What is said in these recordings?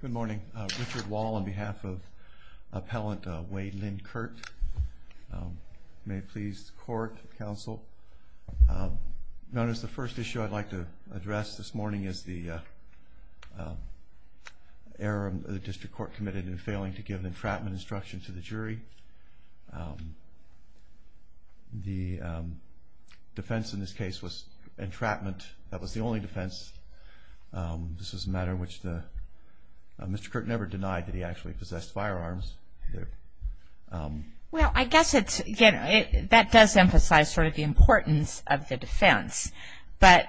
Good morning. Richard Wall on behalf of appellant Wayde Lynn Kurt. May it please the court, counsel. Notice the first issue I'd like to address this morning is the error the district court committed in failing to give an entrapment instruction to the jury. The defense in this case was entrapment. That was the only defense. This was a matter which Mr. Kurt never denied that he actually possessed firearms. Well, I guess it's, that does emphasize sort of the importance of the defense, but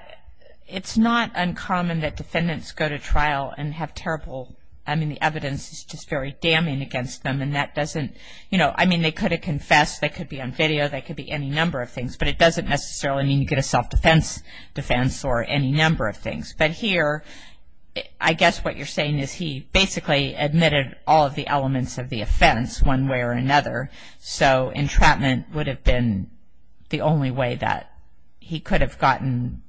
it's not uncommon that defendants go to trial and have terrible, I mean, the evidence is just very damning against them, and that doesn't, you know, I mean, they could have confessed, that could be on video, that could be any number of things, but it doesn't necessarily mean you get a self-defense defense or any number of things. But here, I guess what you're saying is he basically admitted all of the elements of the offense one way or another, so entrapment would have been the only way that he could have gotten,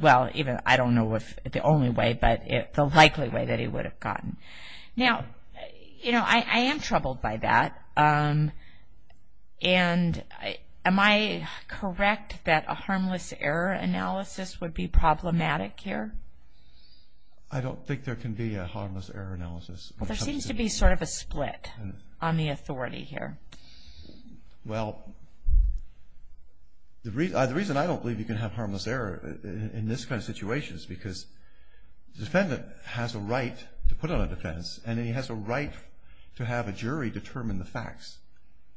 well, even, I don't know if the only way, but the likely way that he would have gotten. Now, you know, I am troubled by that, and am I correct that a harmless error analysis would be problematic here? I don't think there can be a harmless error analysis. Well, there seems to be sort of a split on the authority here. Well, the reason I don't believe you can have harmless error in this kind of situation is because the defendant has a right to put on a defense, and then he has a right to have a jury determine the facts.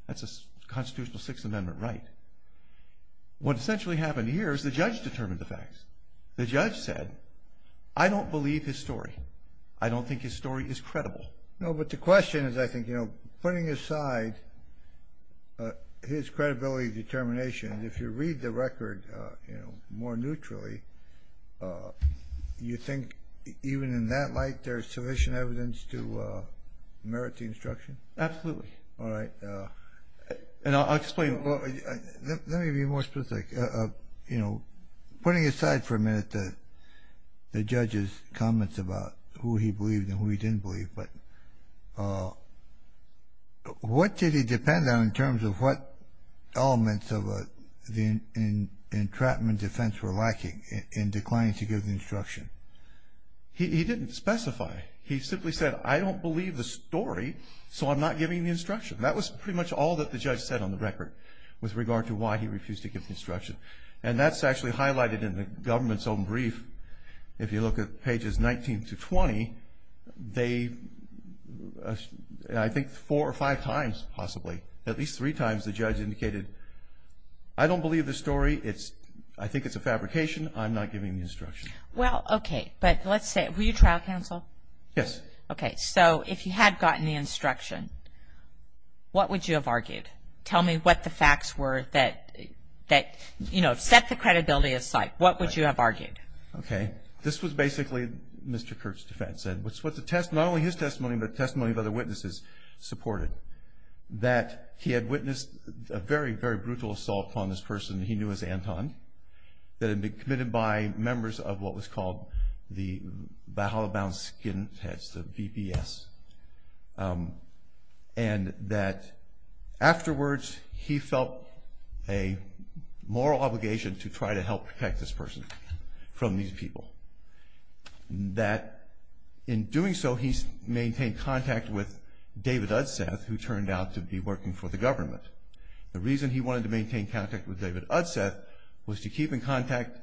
That's a constitutional Sixth Amendment right. What essentially happened here is the judge determined the facts. The judge said, I don't believe his story. I don't think his story is credible. No, but the question is, I think, you know, putting aside his credibility determination, if you read the record, you know, more neutrally, you think even in that light, there's sufficient evidence to merit the instruction? Absolutely. All right. And I'll explain. Let me be more specific. You know, putting aside for a minute the judge's comments about who he believed and who he didn't believe, but what did he depend on in terms of what elements of the entrapment defense were lacking in declining to give the instruction? He didn't specify. He simply said, I don't believe the story, so I'm not giving the instruction. That was pretty much all that the judge said on the record with regard to why he refused to give the instruction. And that's actually highlighted in the government's own brief. If you look at pages 19 to 20, they, I think, four or five times possibly, at least three times, the judge indicated, I don't believe the story. It's, I think it's a fabrication. I'm not giving the instruction. Well, okay, but let's say, were you trial counsel? Yes. Okay, so if you had gotten the instruction, what would you have argued? Tell me what the facts were that, you know, set the credibility aside. What would you have argued? Okay. This was basically, Mr. Kirk's defense said, what's what the test, not only his testimony, but testimony of other witnesses supported. That he had witnessed a very, very brutal assault on this person he knew as Anton. That had been committed by members of what was called the Baha'u'llah Bound Skinheads, the BBS. And that afterwards, he felt a moral obligation to try to help protect this person from these people. That in doing so, he maintained contact with David Udseth, who turned out to be working for the government. The reason he wanted to maintain contact with David Udseth was to keep in contact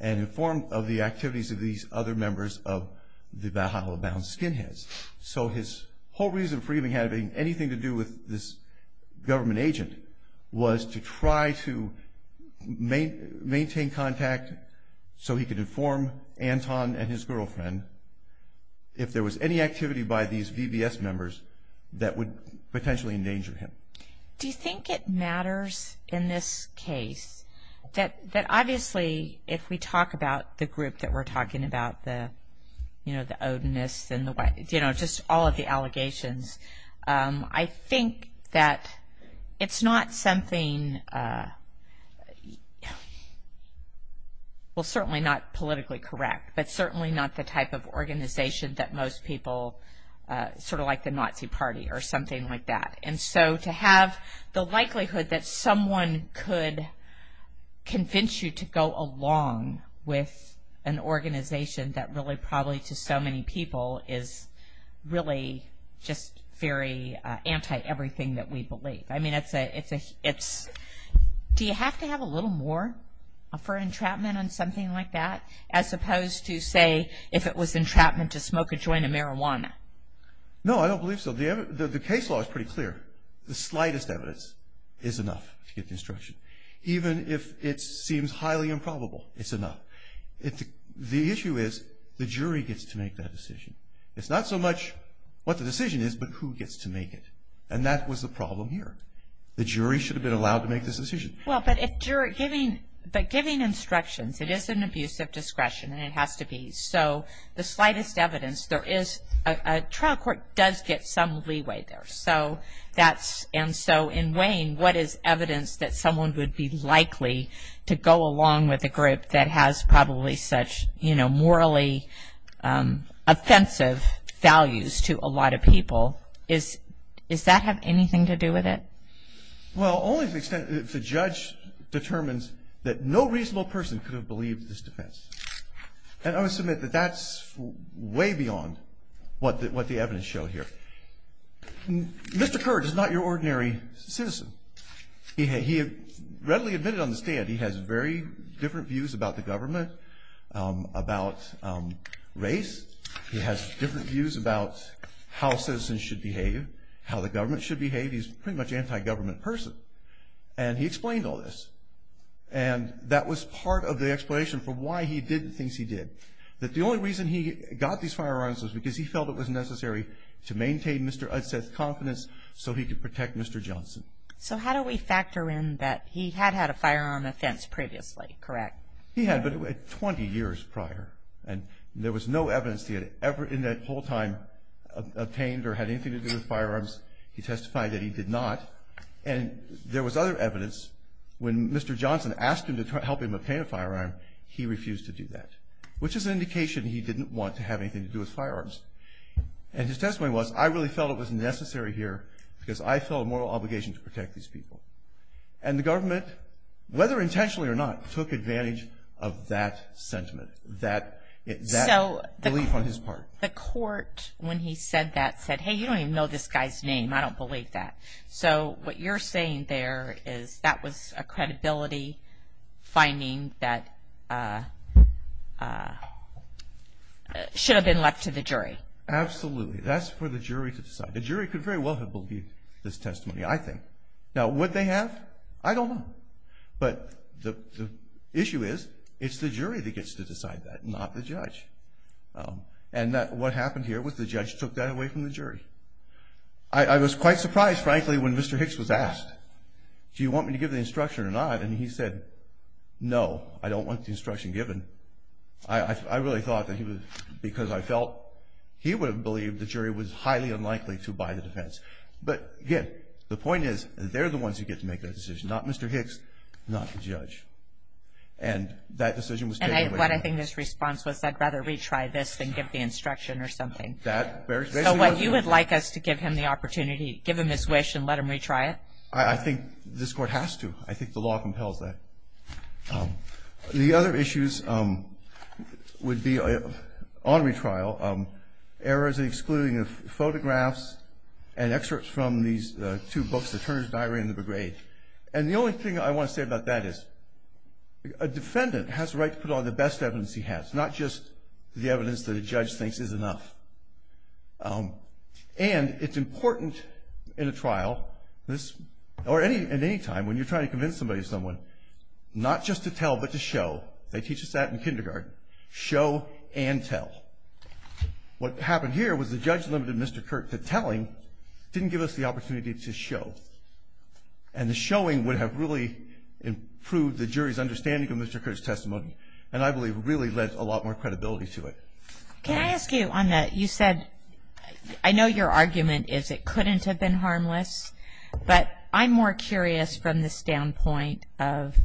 and inform of the activities of these other members of the Baha'u'llah Bound Skinheads. So his whole reason for even having anything to do with this government agent was to try to maintain contact so he could inform Anton and his girlfriend if there was any activity by these BBS members that would potentially endanger him. Do you think it matters in this case that obviously, if we talk about the group that we're talking about, the, you know, the Odinists and the, you know, just all of the allegations, I think that it's not something, well certainly not politically correct, but certainly not the type of organization that most people, sort of like the Nazi party or something like that. And so to have the likelihood that someone could convince you to go along with an organization that really probably to so many people is really just very anti-everything that we believe. I mean, it's a, it's, do you have to have a little more for entrapment on something like that, as opposed to say, if it was entrapment to smoke a joint of marijuana? No, I don't believe so. The evidence, the case law is pretty clear. The slightest evidence is enough to get the instruction. Even if it seems highly improbable, it's enough. It's, the issue is the jury gets to make that decision. It's not so much what the decision is, but who gets to make it. And that was the problem here. The jury should have been allowed to make this decision. Well, but if you're giving, but giving instructions, it is an abuse of discretion, and it has to be. So the slightest evidence, there is, a trial court does get some leeway there. So that's, and so in weighing what is evidence that someone would be likely to go along with a group that has probably such, you know, morally offensive values to a lot of people, is, does that have anything to do with it? Well, only to the extent that if the judge determines that no reasonable person could have believed this defense. And I would submit that that's way beyond what the evidence showed here. Mr. Kerr is not your ordinary citizen. He had readily admitted on the stand he has very different views about the government, about race. He has different views about how citizens should behave, how the government should behave. He's pretty much an anti-government person, and he explained all this. And that was part of the explanation for why he did the things he did. That the only reason he got these firearms was because he felt it was necessary to maintain Mr. Udset's confidence so he could protect Mr. Johnson. So how do we factor in that he had had a firearm offense previously, correct? He had, but it was 20 years prior, and there was no evidence he had ever in that whole time obtained or had anything to do with firearms. He testified that he did not. And there was other evidence when Mr. Johnson asked him to help him obtain a firearm, he refused to do that. Which is an indication he didn't want to have anything to do with firearms. And his testimony was, I really felt it was necessary here because I felt a moral obligation to protect these people. And the government, whether intentionally or not, took advantage of that sentiment, that belief on his part. The court, when he said that, said, hey, you don't even know this guy's name. I don't believe that. So what you're saying there is that was a credibility finding that should have been left to the jury. Absolutely. That's for the jury to decide. The jury could very well have believed this testimony, I think. Now, would they have? I don't know. But the issue is, it's the jury that gets to decide that, not the judge. And what happened here was the judge took that away from the jury. I was quite surprised, frankly, when Mr. Hicks was asked, do you want me to give the instruction or not? And he said, no, I don't want the instruction given. I really thought that he was, because I felt he would have believed the jury was highly unlikely to buy the defense. But, again, the point is, they're the ones who get to make that decision. Not Mr. Hicks, not the judge. And that decision was taken away from us. And what I think this response was, I'd rather retry this than give the instruction or something. That, basically, was the one. So what, you would like us to give him the opportunity, give him his wish, and let him retry it? I think this Court has to. I think the law compels that. The other issues would be, on retrial, errors in excluding photographs and excerpts from these two books, the Turner's Diary and the Begraved. And the only thing I want to say about that is, a defendant has the right to put on the best evidence he has, not just the evidence that a judge thinks is enough. And it's important in a trial, or at any time, when you're trying to convince somebody to someone, not just to tell, but to show. They teach us that in kindergarten. Show and tell. What happened here was the judge limited Mr. Kirk to telling, didn't give us the opportunity to show. And the showing would have really improved the jury's understanding of Mr. Kirk's testimony. And I believe it really led to a lot more credibility to it. Can I ask you on that? You said, I know your argument is it couldn't have been harmless. But I'm more curious from the standpoint of,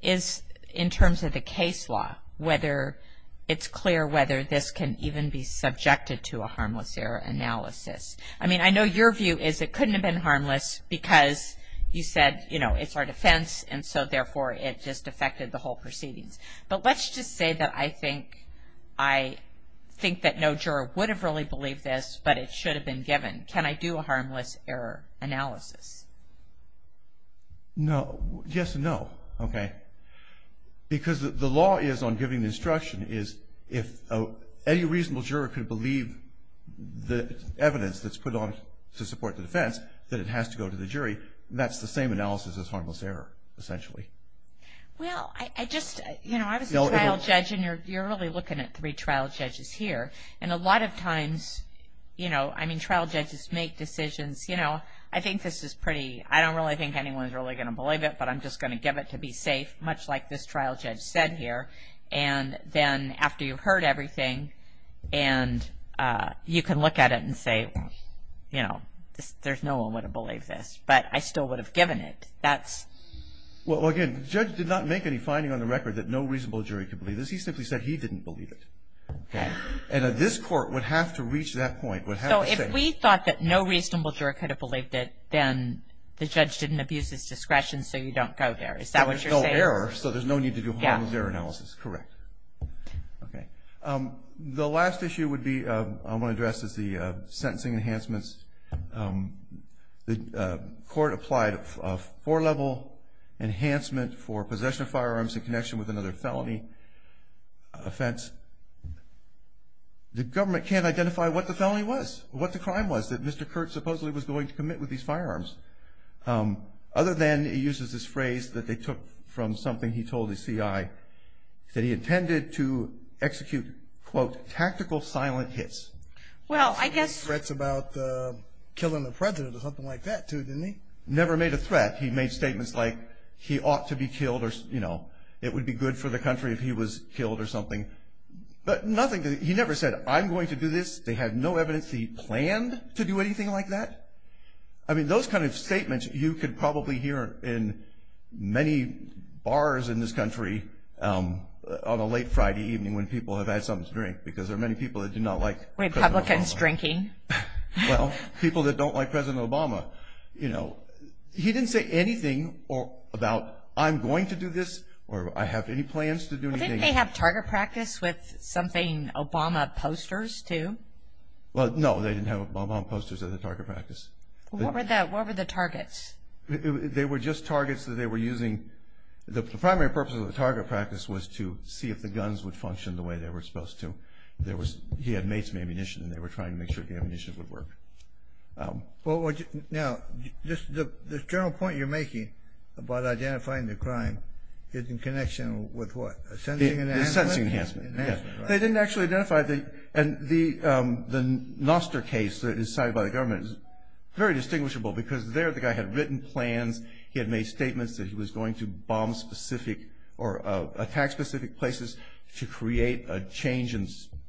in terms of the case law, whether it's clear whether this can even be subjected to a harmless error analysis. I mean, I know your view is it couldn't have been harmless because you said, you know, it's our defense. And so, therefore, it just affected the whole proceedings. But let's just say that I think that no juror would have really believed this, but it should have been given. Can I do a harmless error analysis? No. Yes and no. Okay. Because the law is, on giving the instruction, is if any reasonable juror could believe the evidence that's put on to support the defense, that it has to go to the jury, that's the same analysis as harmless error, essentially. Well, I just, you know, I was a trial judge and you're really looking at three trial judges here. And a lot of times, you know, I mean, trial judges make decisions, you know, I think this is pretty, I don't really think anyone's really going to believe it, but I'm just going to give it to be safe, much like this trial judge said here. And then after you've heard everything and you can look at it and say, you know, there's no one would have believed this. But I still would have given it. That's. Well, again, the judge did not make any finding on the record that no reasonable jury could believe this. He simply said he didn't believe it. And this court would have to reach that point. So if we thought that no reasonable juror could have believed it, then the judge didn't abuse his discretion, so you don't go there. Is that what you're saying? No error, so there's no need to do a harmless error analysis. Correct. Okay. The last issue would be, I want to address, is the sentencing enhancements. The court applied a four-level enhancement for possession of firearms in connection with another felony offense. The government can't identify what the felony was, what the crime was that Mr. Kurtz supposedly was going to commit with these firearms. Other than he uses this phrase that they took from something he told the CI that he intended to execute, quote, tactical silent hits. Well, I guess. Threats about killing the president or something like that, too, didn't he? Never made a threat. He made statements like he ought to be killed or, you know, it would be good for the country if he was killed or something. But nothing, he never said, I'm going to do this. They had no evidence he planned to do anything like that. I mean, those kind of statements you could probably hear in many bars in this country on a late Friday evening when people have had something to drink, because there are many people that do not like President Obama. Republicans drinking. Well, people that don't like President Obama. You know, he didn't say anything about, I'm going to do this, or I have any plans to do anything. Didn't they have target practice with something, Obama posters, too? Well, no, they didn't have Obama posters as a target practice. What were the targets? They were just targets that they were using. The primary purpose of the target practice was to see if the guns would function the way they were supposed to. There was, he had mates in ammunition and they were trying to make sure the ammunition would work. Now, the general point you're making about identifying the crime is in connection with what? Sensing enhancement? Sensing enhancement, yes. They didn't actually identify, and the Noster case that was cited by the government is very distinguishable, because there the guy had written plans, he had made statements that he was going to bomb specific or attack specific places to create a change in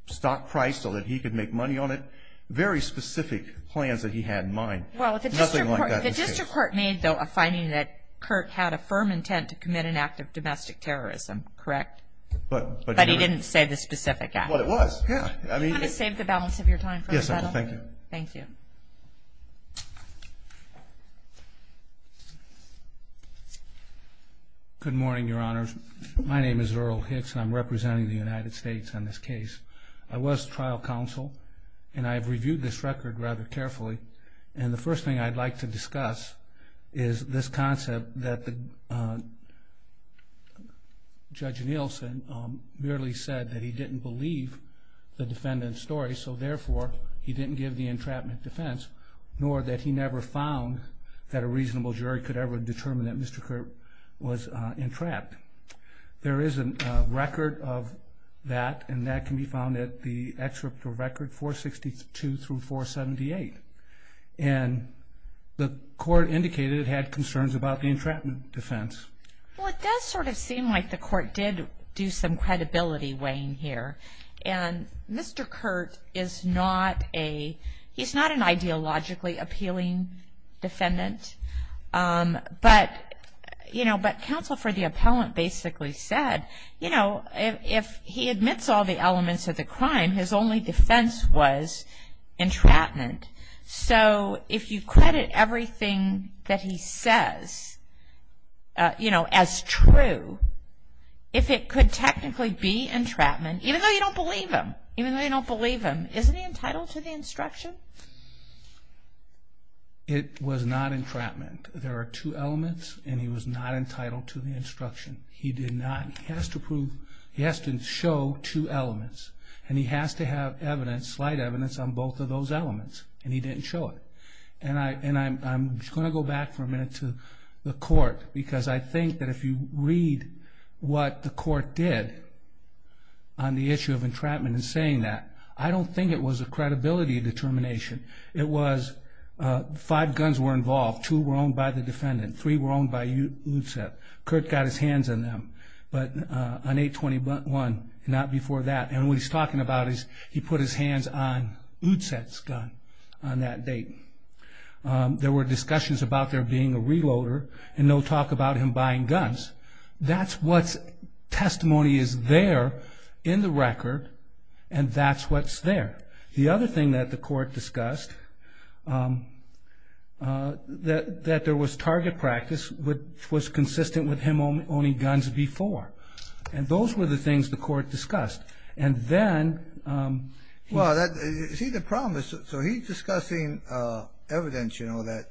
stock price so that he could make money on it. Very specific plans that he had in mind. Well, the district court made, though, a finding that Kurt had a firm intent to commit an act of domestic terrorism, correct? But he didn't say the specific act. Well, it was, yeah. You want to save the balance of your time for the panel? Yes, I will, thank you. Thank you. Good morning, Your Honors. My name is Earl Hicks and I'm representing the United States on this case. I was trial counsel and I've reviewed this record rather carefully, and the first thing I'd like to discuss is this concept that Judge Nielsen merely said that he didn't believe the defendant's story, so therefore he didn't give the entrapment defense, nor that he never found that a reasonable jury could ever determine that Mr. Kurt was entrapped. There is a record of that, and that can be found at the excerpt of record 462 through 478, and the court indicated it had concerns about the entrapment defense. Well, it does sort of seem like the court did do some credibility weighing here, and Mr. Kurt is not a, he's not an ideologically appealing defendant, but counsel for the appellant basically said, you know, if he admits all the elements of the crime, his only defense was entrapment. So if you credit everything that he says as true, if it could technically be entrapment, even though you don't believe him, even though you don't believe him, isn't he entitled to the instruction? It was not entrapment. There are two elements, and he was not entitled to the instruction. He did not, he has to prove, he has to show two elements, and he has to have evidence, slight evidence on both of those elements, and he didn't show it. And I'm just going to go back for a minute to the court, because I think that if you read what the court did on the issue of entrapment in saying that, I don't think it was a credibility determination. It was five guns were involved, two were owned by the defendant, three were owned by Udset. Kurt got his hands on them, but on 8-21, not before that, and what he's talking about is he put his hands on Udset's gun on that date. There were discussions about there being a reloader, and no talk about him buying guns. That's what's testimony is there in the record, and that's what's there. The other thing that the court discussed, that there was target practice which was consistent with him owning guns before, and those were the things the court discussed. And then... Well, see the problem is, so he's discussing evidence, you know, that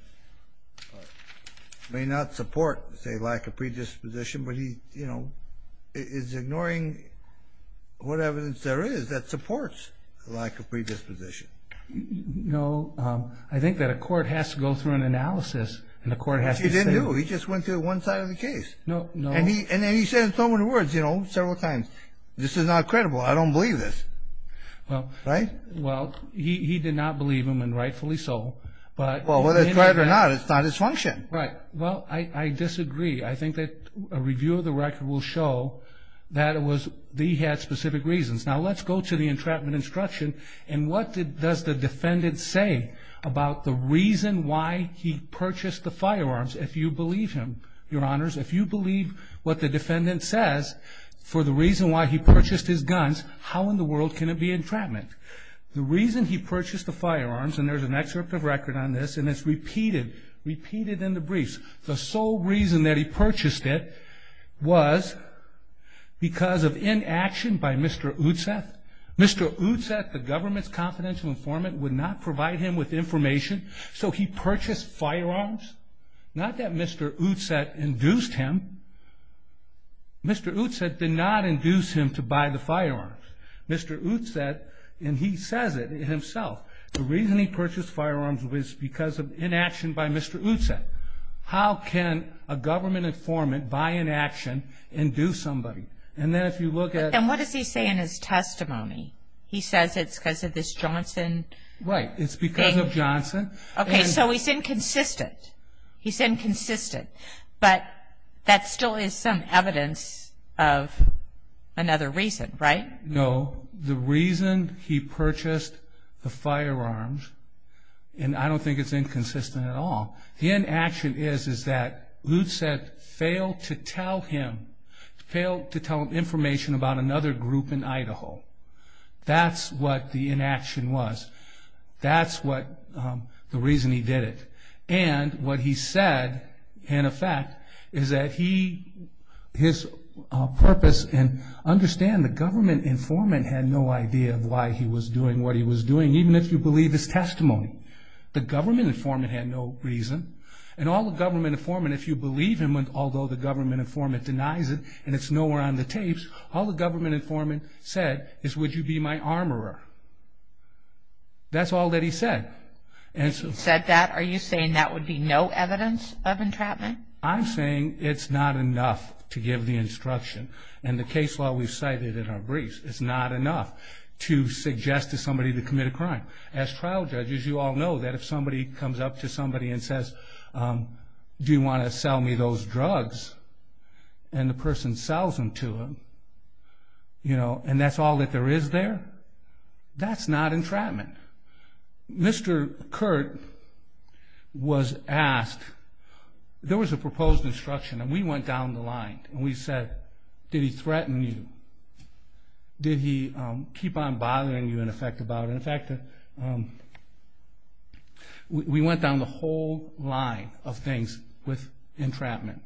may not support, say, lack of predisposition, but he, you know, is ignoring what evidence there is that supports lack of predisposition. No, I think that a court has to go through an analysis, and a court has to say... He didn't do it, he just went through one side of the case. No, no. And then he said so many words, you know, several times, this is not credible, I don't believe this. Well... Right? Well, he did not believe them, and rightfully so, but... Well, whether it's right or not, it's not his function. Right. Well, I disagree. I think that a review of the record will show that he had specific reasons. Now, let's go to the entrapment instruction, and what does the defendant say about the reason why he purchased the firearms, if you believe him, Your Honors? If you believe what the defendant says for the reason why he purchased his guns, how in the world can it be entrapment? The reason he purchased the firearms, and there's an excerpt of record on this, and it's repeated, repeated in the briefs. The sole reason that he purchased it was because of inaction by Mr. Utseth. Mr. Utseth, the government's confidential informant, would not provide him with information, so he purchased firearms. Not that Mr. Utseth induced him. Mr. Utseth did not induce him to buy the firearms. Mr. Utseth, and he says it himself, the reason he purchased firearms was because of inaction by Mr. Utseth. How can a government informant buy inaction and do somebody? And then if you look at- And what does he say in his testimony? He says it's because of this Johnson- Right, it's because of Johnson. Okay, so he's inconsistent. He's inconsistent, but that still is some evidence of another reason, right? No, the reason he purchased the firearms, and I don't think it's inconsistent at all, the inaction is that Utseth failed to tell him information about another group in Idaho. That's what the inaction was. That's the reason he did it. And what he said, in effect, is that his purpose, and understand the government informant had no idea of why he was doing what he was doing, even if you believe his testimony. The government informant had no reason, and all the government informant, if you believe him, although the government informant denies it, and it's nowhere on the tapes, all the government informant said is, would you be my armorer? That's all that he said. And so- Said that? Are you saying that would be no evidence of entrapment? I'm saying it's not enough to give the instruction, and the case law we've cited in our briefs, it's not enough to suggest to somebody to commit a crime. As trial judges, you all know that if somebody comes up to somebody and says, do you want to sell me those drugs? And the person sells them to him, and that's all that there is there, that's not entrapment. Mr. Curt was asked, there was a proposed instruction, and we went down the line, and we said, did he threaten you? Did he keep on bothering you, in effect, about it? In fact, we went down the whole line of things with entrapment.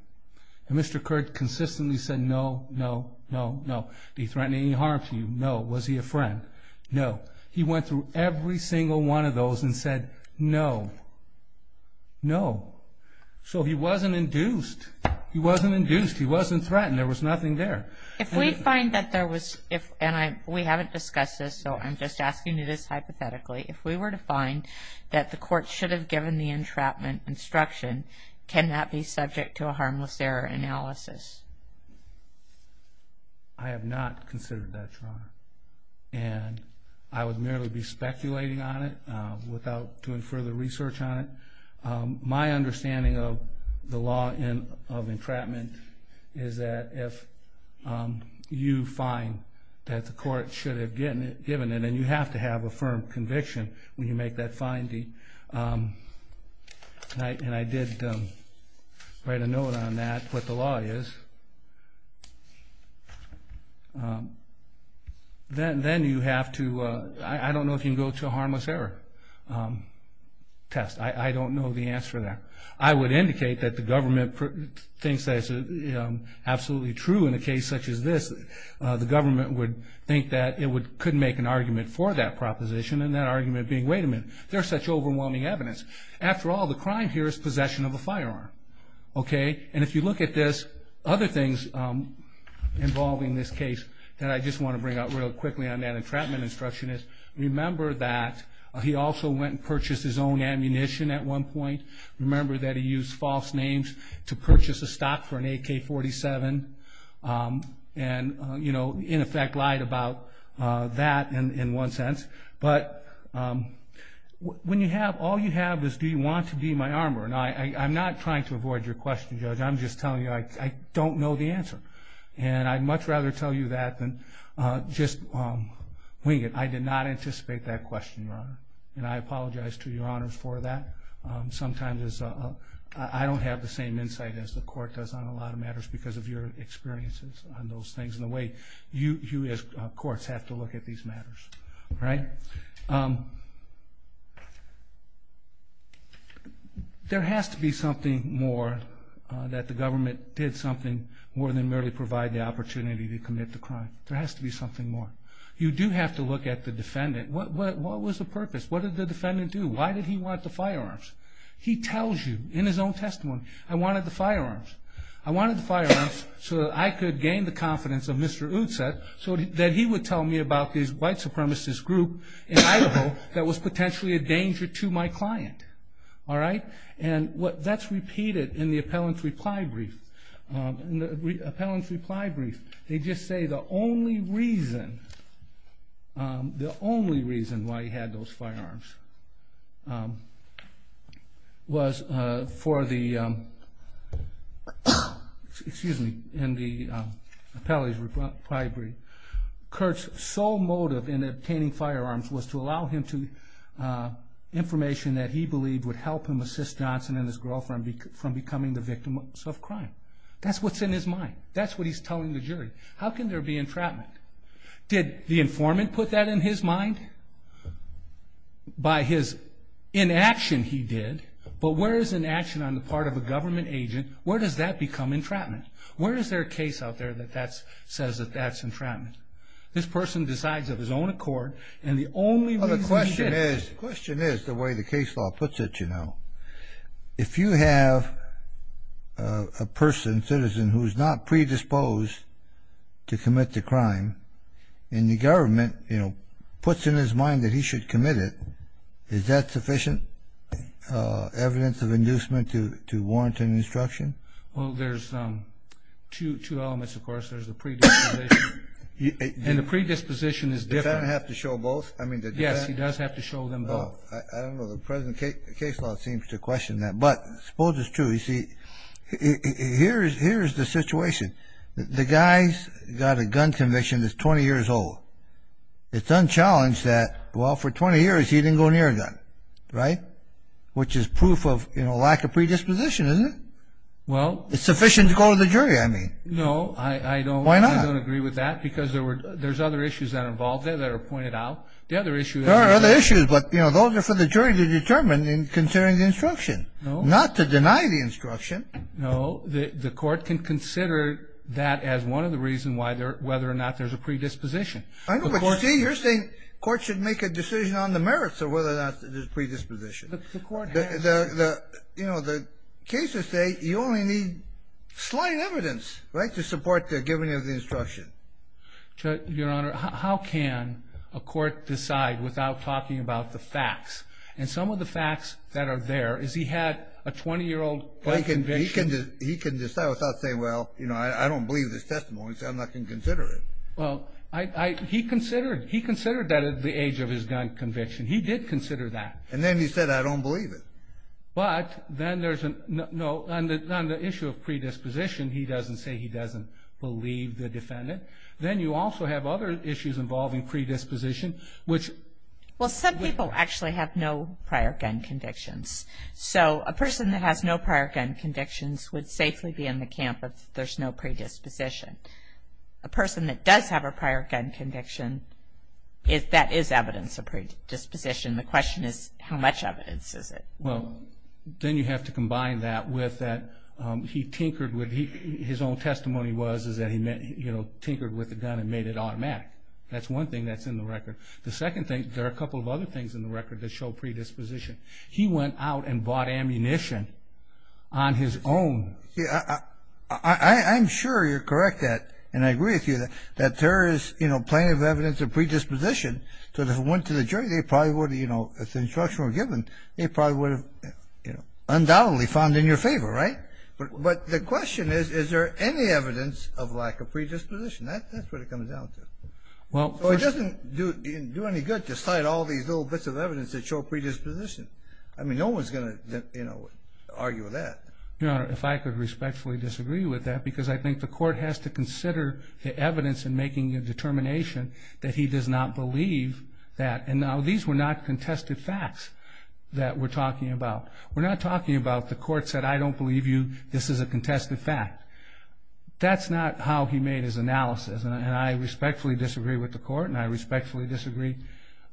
And Mr. Curt consistently said, no, no, no, no. Did he threaten any harm to you? No. Was he a friend? No. He went through every single one of those and said, no, no. So he wasn't induced. He wasn't induced. He wasn't threatened. There was nothing there. If we find that there was, and we haven't discussed this, so I'm just asking you this hypothetically, if we were to find that the court should have given the entrapment instruction, can that be subject to a harmless error analysis? I have not considered that, Your Honor. And I would merely be speculating on it without doing further research on it. My understanding of the law of entrapment is that if you find that the court should have given it, and you have to have a firm conviction when you make that finding, and I did write a note on that, what the law is, then you have to, I don't know if you can go to a harmless error test. I don't know the answer to that. I would indicate that the government thinks that it's absolutely true in a case such as this. The government would think that it couldn't make an argument for that proposition, and that argument being, wait a minute, there's such overwhelming evidence. After all, the crime here is possession of a firearm. And if you look at this, other things involving this case that I just want to bring out real quickly on that entrapment instruction is, remember that he also went and purchased his own ammunition at one point. Remember that he used false names to purchase a stock for an AK-47. And in effect, lied about that in one sense. But all you have is, do you want to be my armor? And I'm not trying to avoid your question, Judge. I'm just telling you, I don't know the answer. And I'd much rather tell you that than just wing it. I did not anticipate that question, Your Honor. And I apologize to Your Honor for that. Sometimes I don't have the same insight as the court does on a lot of matters, because of your experiences on those things, and the way you as courts have to look at these matters. There has to be something more that the government did something more than merely provide the opportunity to commit the crime. There has to be something more. You do have to look at the defendant. What was the purpose? What did the defendant do? Why did he want the firearms? He tells you in his own testimony, I wanted the firearms. I wanted the firearms so that I could gain the confidence of Mr. Unset, so that he would tell me about this white supremacist group in Idaho that was potentially a danger to my client. And that's repeated in the appellant's reply brief. In the appellant's reply brief, they just say the only reason why he had those firearms was for the, excuse me, in the appellant's reply brief, Kurt's sole motive in obtaining firearms was to allow him to information that he believed would help him assist Johnson and his girlfriend from becoming the victims of crime. That's what's in his mind. That's what he's telling the jury. How can there be entrapment? Did the informant put that in his mind? By his inaction, he did. But where is inaction on the part of a government agent? Where does that become entrapment? Where is there a case out there that says that that's entrapment? This person decides of his own accord, and the only reason he did it. The question is, the way the case law puts it, you know, if you have a person, citizen, who's not predisposed to commit the crime, and the government puts in his mind that he should commit it, is that sufficient evidence of inducement to warrant an instruction? Well, there's two elements, of course. There's the predisposition. And the predisposition is different. Does the defendant have to show both? I mean, the defendant? Yes, he does have to show them both. I don't know. The present case law seems to question that. But suppose it's true. You see, here's the situation. The guy's got a gun conviction that's 20 years old. It's unchallenged that, well, for 20 years he didn't go near a gun, right? Which is proof of lack of predisposition, isn't it? Well. It's sufficient to go to the jury, I mean. No, I don't agree with that. Why not? Because there's other issues that are involved there that are pointed out. The other issue is that there are other issues, but those are for the jury to determine in considering the instruction, not to deny the instruction. No, the court can consider that as one of the reasons why whether or not there's a predisposition. I know, but you see, you're saying court should make a decision on the merits of whether or not there's a predisposition. The court has to. You know, the cases say you only need slight evidence, right, to support the giving of the instruction. Your Honor, how can a court decide without talking about the facts? And some of the facts that are there is he had a 20-year-old black conviction. He can decide without saying, well, I don't believe this testimony, so I'm not going to consider it. Well, he considered that at the age of his gun conviction. He did consider that. And then he said, I don't believe it. But then there's an issue of predisposition. He doesn't say he doesn't believe the defendant. Then you also have other issues involving predisposition, which- Well, some people actually have no prior gun convictions. So a person that has no prior gun convictions would safely be in the camp if there's no predisposition. A person that does have a prior gun conviction, that is evidence of predisposition. The question is, how much evidence is it? Well, then you have to combine that with that he tinkered with, his own testimony was, is that he tinkered with the gun and made it automatic. That's one thing that's in the record. The second thing, there are a couple of other things in the record that show predisposition. He went out and bought ammunition on his own. Yeah, I'm sure you're correct at, and I agree with you, that there is plenty of evidence of predisposition. So if it went to the jury, they probably would've, if the instruction were given, they probably would've undoubtedly found in your favor, right? But the question is, is there any evidence of lack of predisposition? That's what it comes down to. Well, it doesn't do any good to cite all these little bits of evidence that show predisposition. I mean, no one's gonna argue with that. Your Honor, if I could respectfully disagree with that, because I think the court has to consider the evidence in making a determination that he does not believe that, and now these were not contested facts that we're talking about. We're not talking about the court said, I don't believe you, this is a contested fact. That's not how he made his analysis, and I respectfully disagree with the court, and I respectfully disagree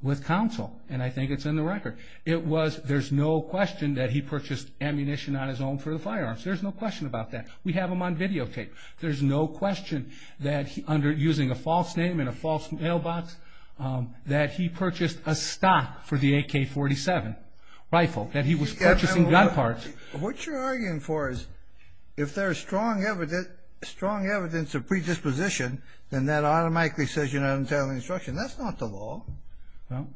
with counsel, and I think it's in the record. It was, there's no question that he purchased ammunition on his own for the firearms. There's no question about that. We have them on videotape. There's no question that under using a false name and a false mailbox, that he purchased a stock for the AK-47 rifle, that he was purchasing gun parts. What you're arguing for is, if there's strong evidence of predisposition, then that automatically says you're not on the tail of the instruction. That's not the law. Well,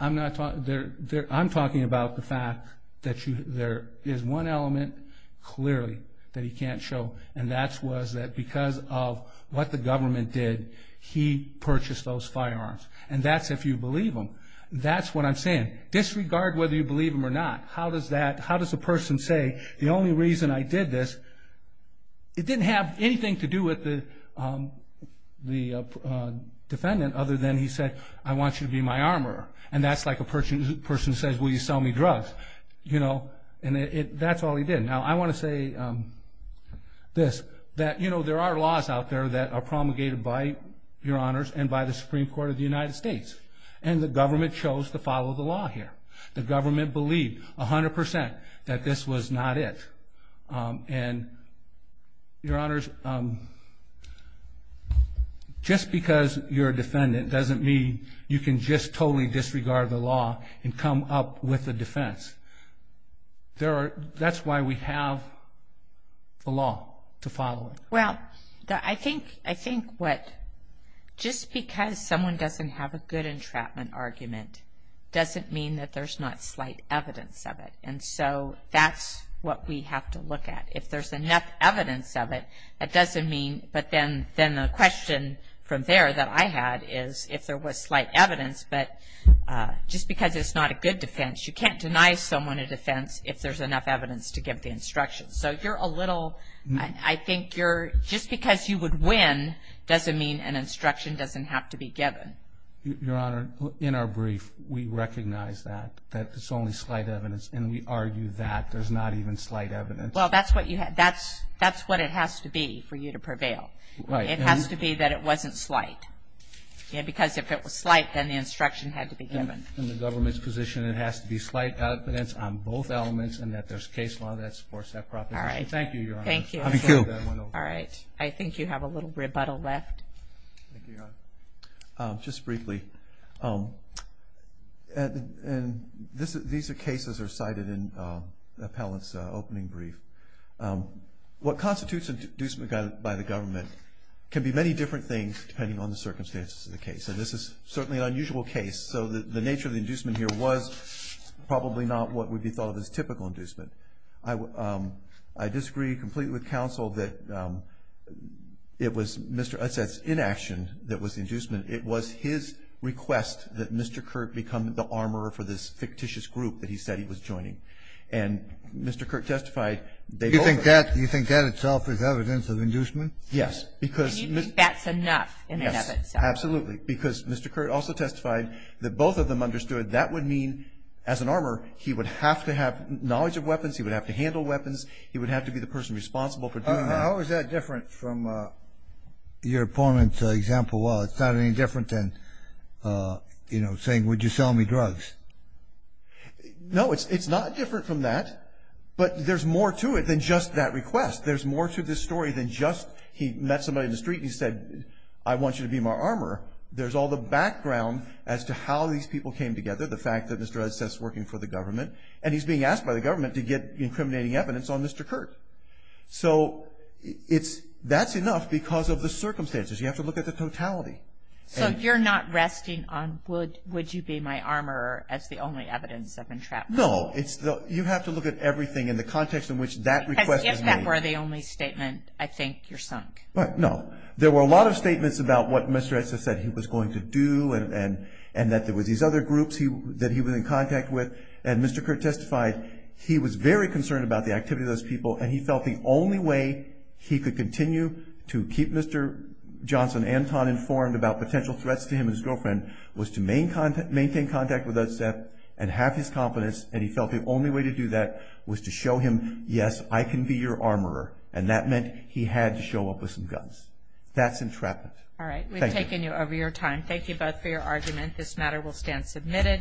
I'm talking about the fact that there is one element clearly that he can't show, and that was that because of what the government did, he purchased those firearms, and that's if you believe him. That's what I'm saying. Disregard whether you believe him or not. How does that, how does a person say, the only reason I did this, it didn't have anything to do with the defendant other than he said, I want you to be my armorer, and that's like a person who says, will you sell me drugs, you know, and that's all he did. Now, I want to say this, that, you know, there are laws out there that are promulgated by your honors and by the Supreme Court of the United States, and the government chose to follow the law here. The government believed 100% that this was not it, and your honors, just because you're a defendant doesn't mean you can just totally disregard the law and come up with a defense. That's why we have the law, to follow it. Well, I think what, just because someone doesn't have a good entrapment argument doesn't mean that there's not slight evidence of it, and so that's what we have to look at. If there's enough evidence of it, that doesn't mean, but then the question from there that I had is, if there was slight evidence, but just because it's not a good defense, you can't deny someone a defense if there's enough evidence to give the instruction. So you're a little, I think you're, just because you would win doesn't mean an instruction doesn't have to be given. Your honor, in our brief, we recognize that, that it's only slight evidence, and we argue that there's not even slight evidence. Well, that's what it has to be for you to prevail. Right. It has to be that it wasn't slight. Yeah, because if it was slight, then the instruction had to be given. In the government's position, it has to be slight evidence on both elements, and that there's case law that supports that proposition. Thank you, your honor. Thank you. All right, I think you have a little rebuttal left. Thank you, your honor. Just briefly, and these are cases that are cited in the appellant's opening brief. What constitutes an inducement by the government can be many different things depending on the circumstances of the case, and this is certainly an unusual case, so the nature of the inducement here was probably not what would be thought of as typical inducement. I disagree completely with counsel that it was Mr. Utset's inaction that was the inducement. It was his request that Mr. Kurt become the armorer for this fictitious group that he said he was joining, and Mr. Kurt testified they both were. You think that itself is evidence of inducement? Yes, because. And you think that's enough in and of itself? Yes, absolutely, because Mr. Kurt also testified that both of them understood that would mean, as an armorer, he would have to have knowledge of weapons, he would have to handle weapons, he would have to be the person responsible for doing that. How is that different from your opponent's example? Well, it's not any different than, you know, saying, would you sell me drugs? No, it's not different from that, but there's more to it than just that request. There's more to this story than just he met somebody in the street and he said, I want you to be my armorer. There's all the background as to how these people came together, the fact that Mr. Utset's working for the government, and he's being asked by the government to get incriminating evidence on Mr. Kurt. So, that's enough because of the circumstances. You have to look at the totality. So, you're not resting on, would you be my armorer, as the only evidence of entrapment? No, you have to look at everything in the context in which that request was made. Because if that were the only statement, I think you're sunk. Right, no. There were a lot of statements about what Mr. Utset said he was going to do, and that there were these other groups that he was in contact with, and Mr. Kurt testified he was very concerned about the activity of those people, and he felt the only way he could continue to keep Mr. Johnson Anton informed about potential threats to him and his girlfriend was to maintain contact with Utset and have his confidence, and he felt the only way to do that was to show him, yes, I can be your armorer. And that meant he had to show up with some guns. That's entrapment. All right, we've taken you over your time. Thank you both for your argument. This matter will stand submitted.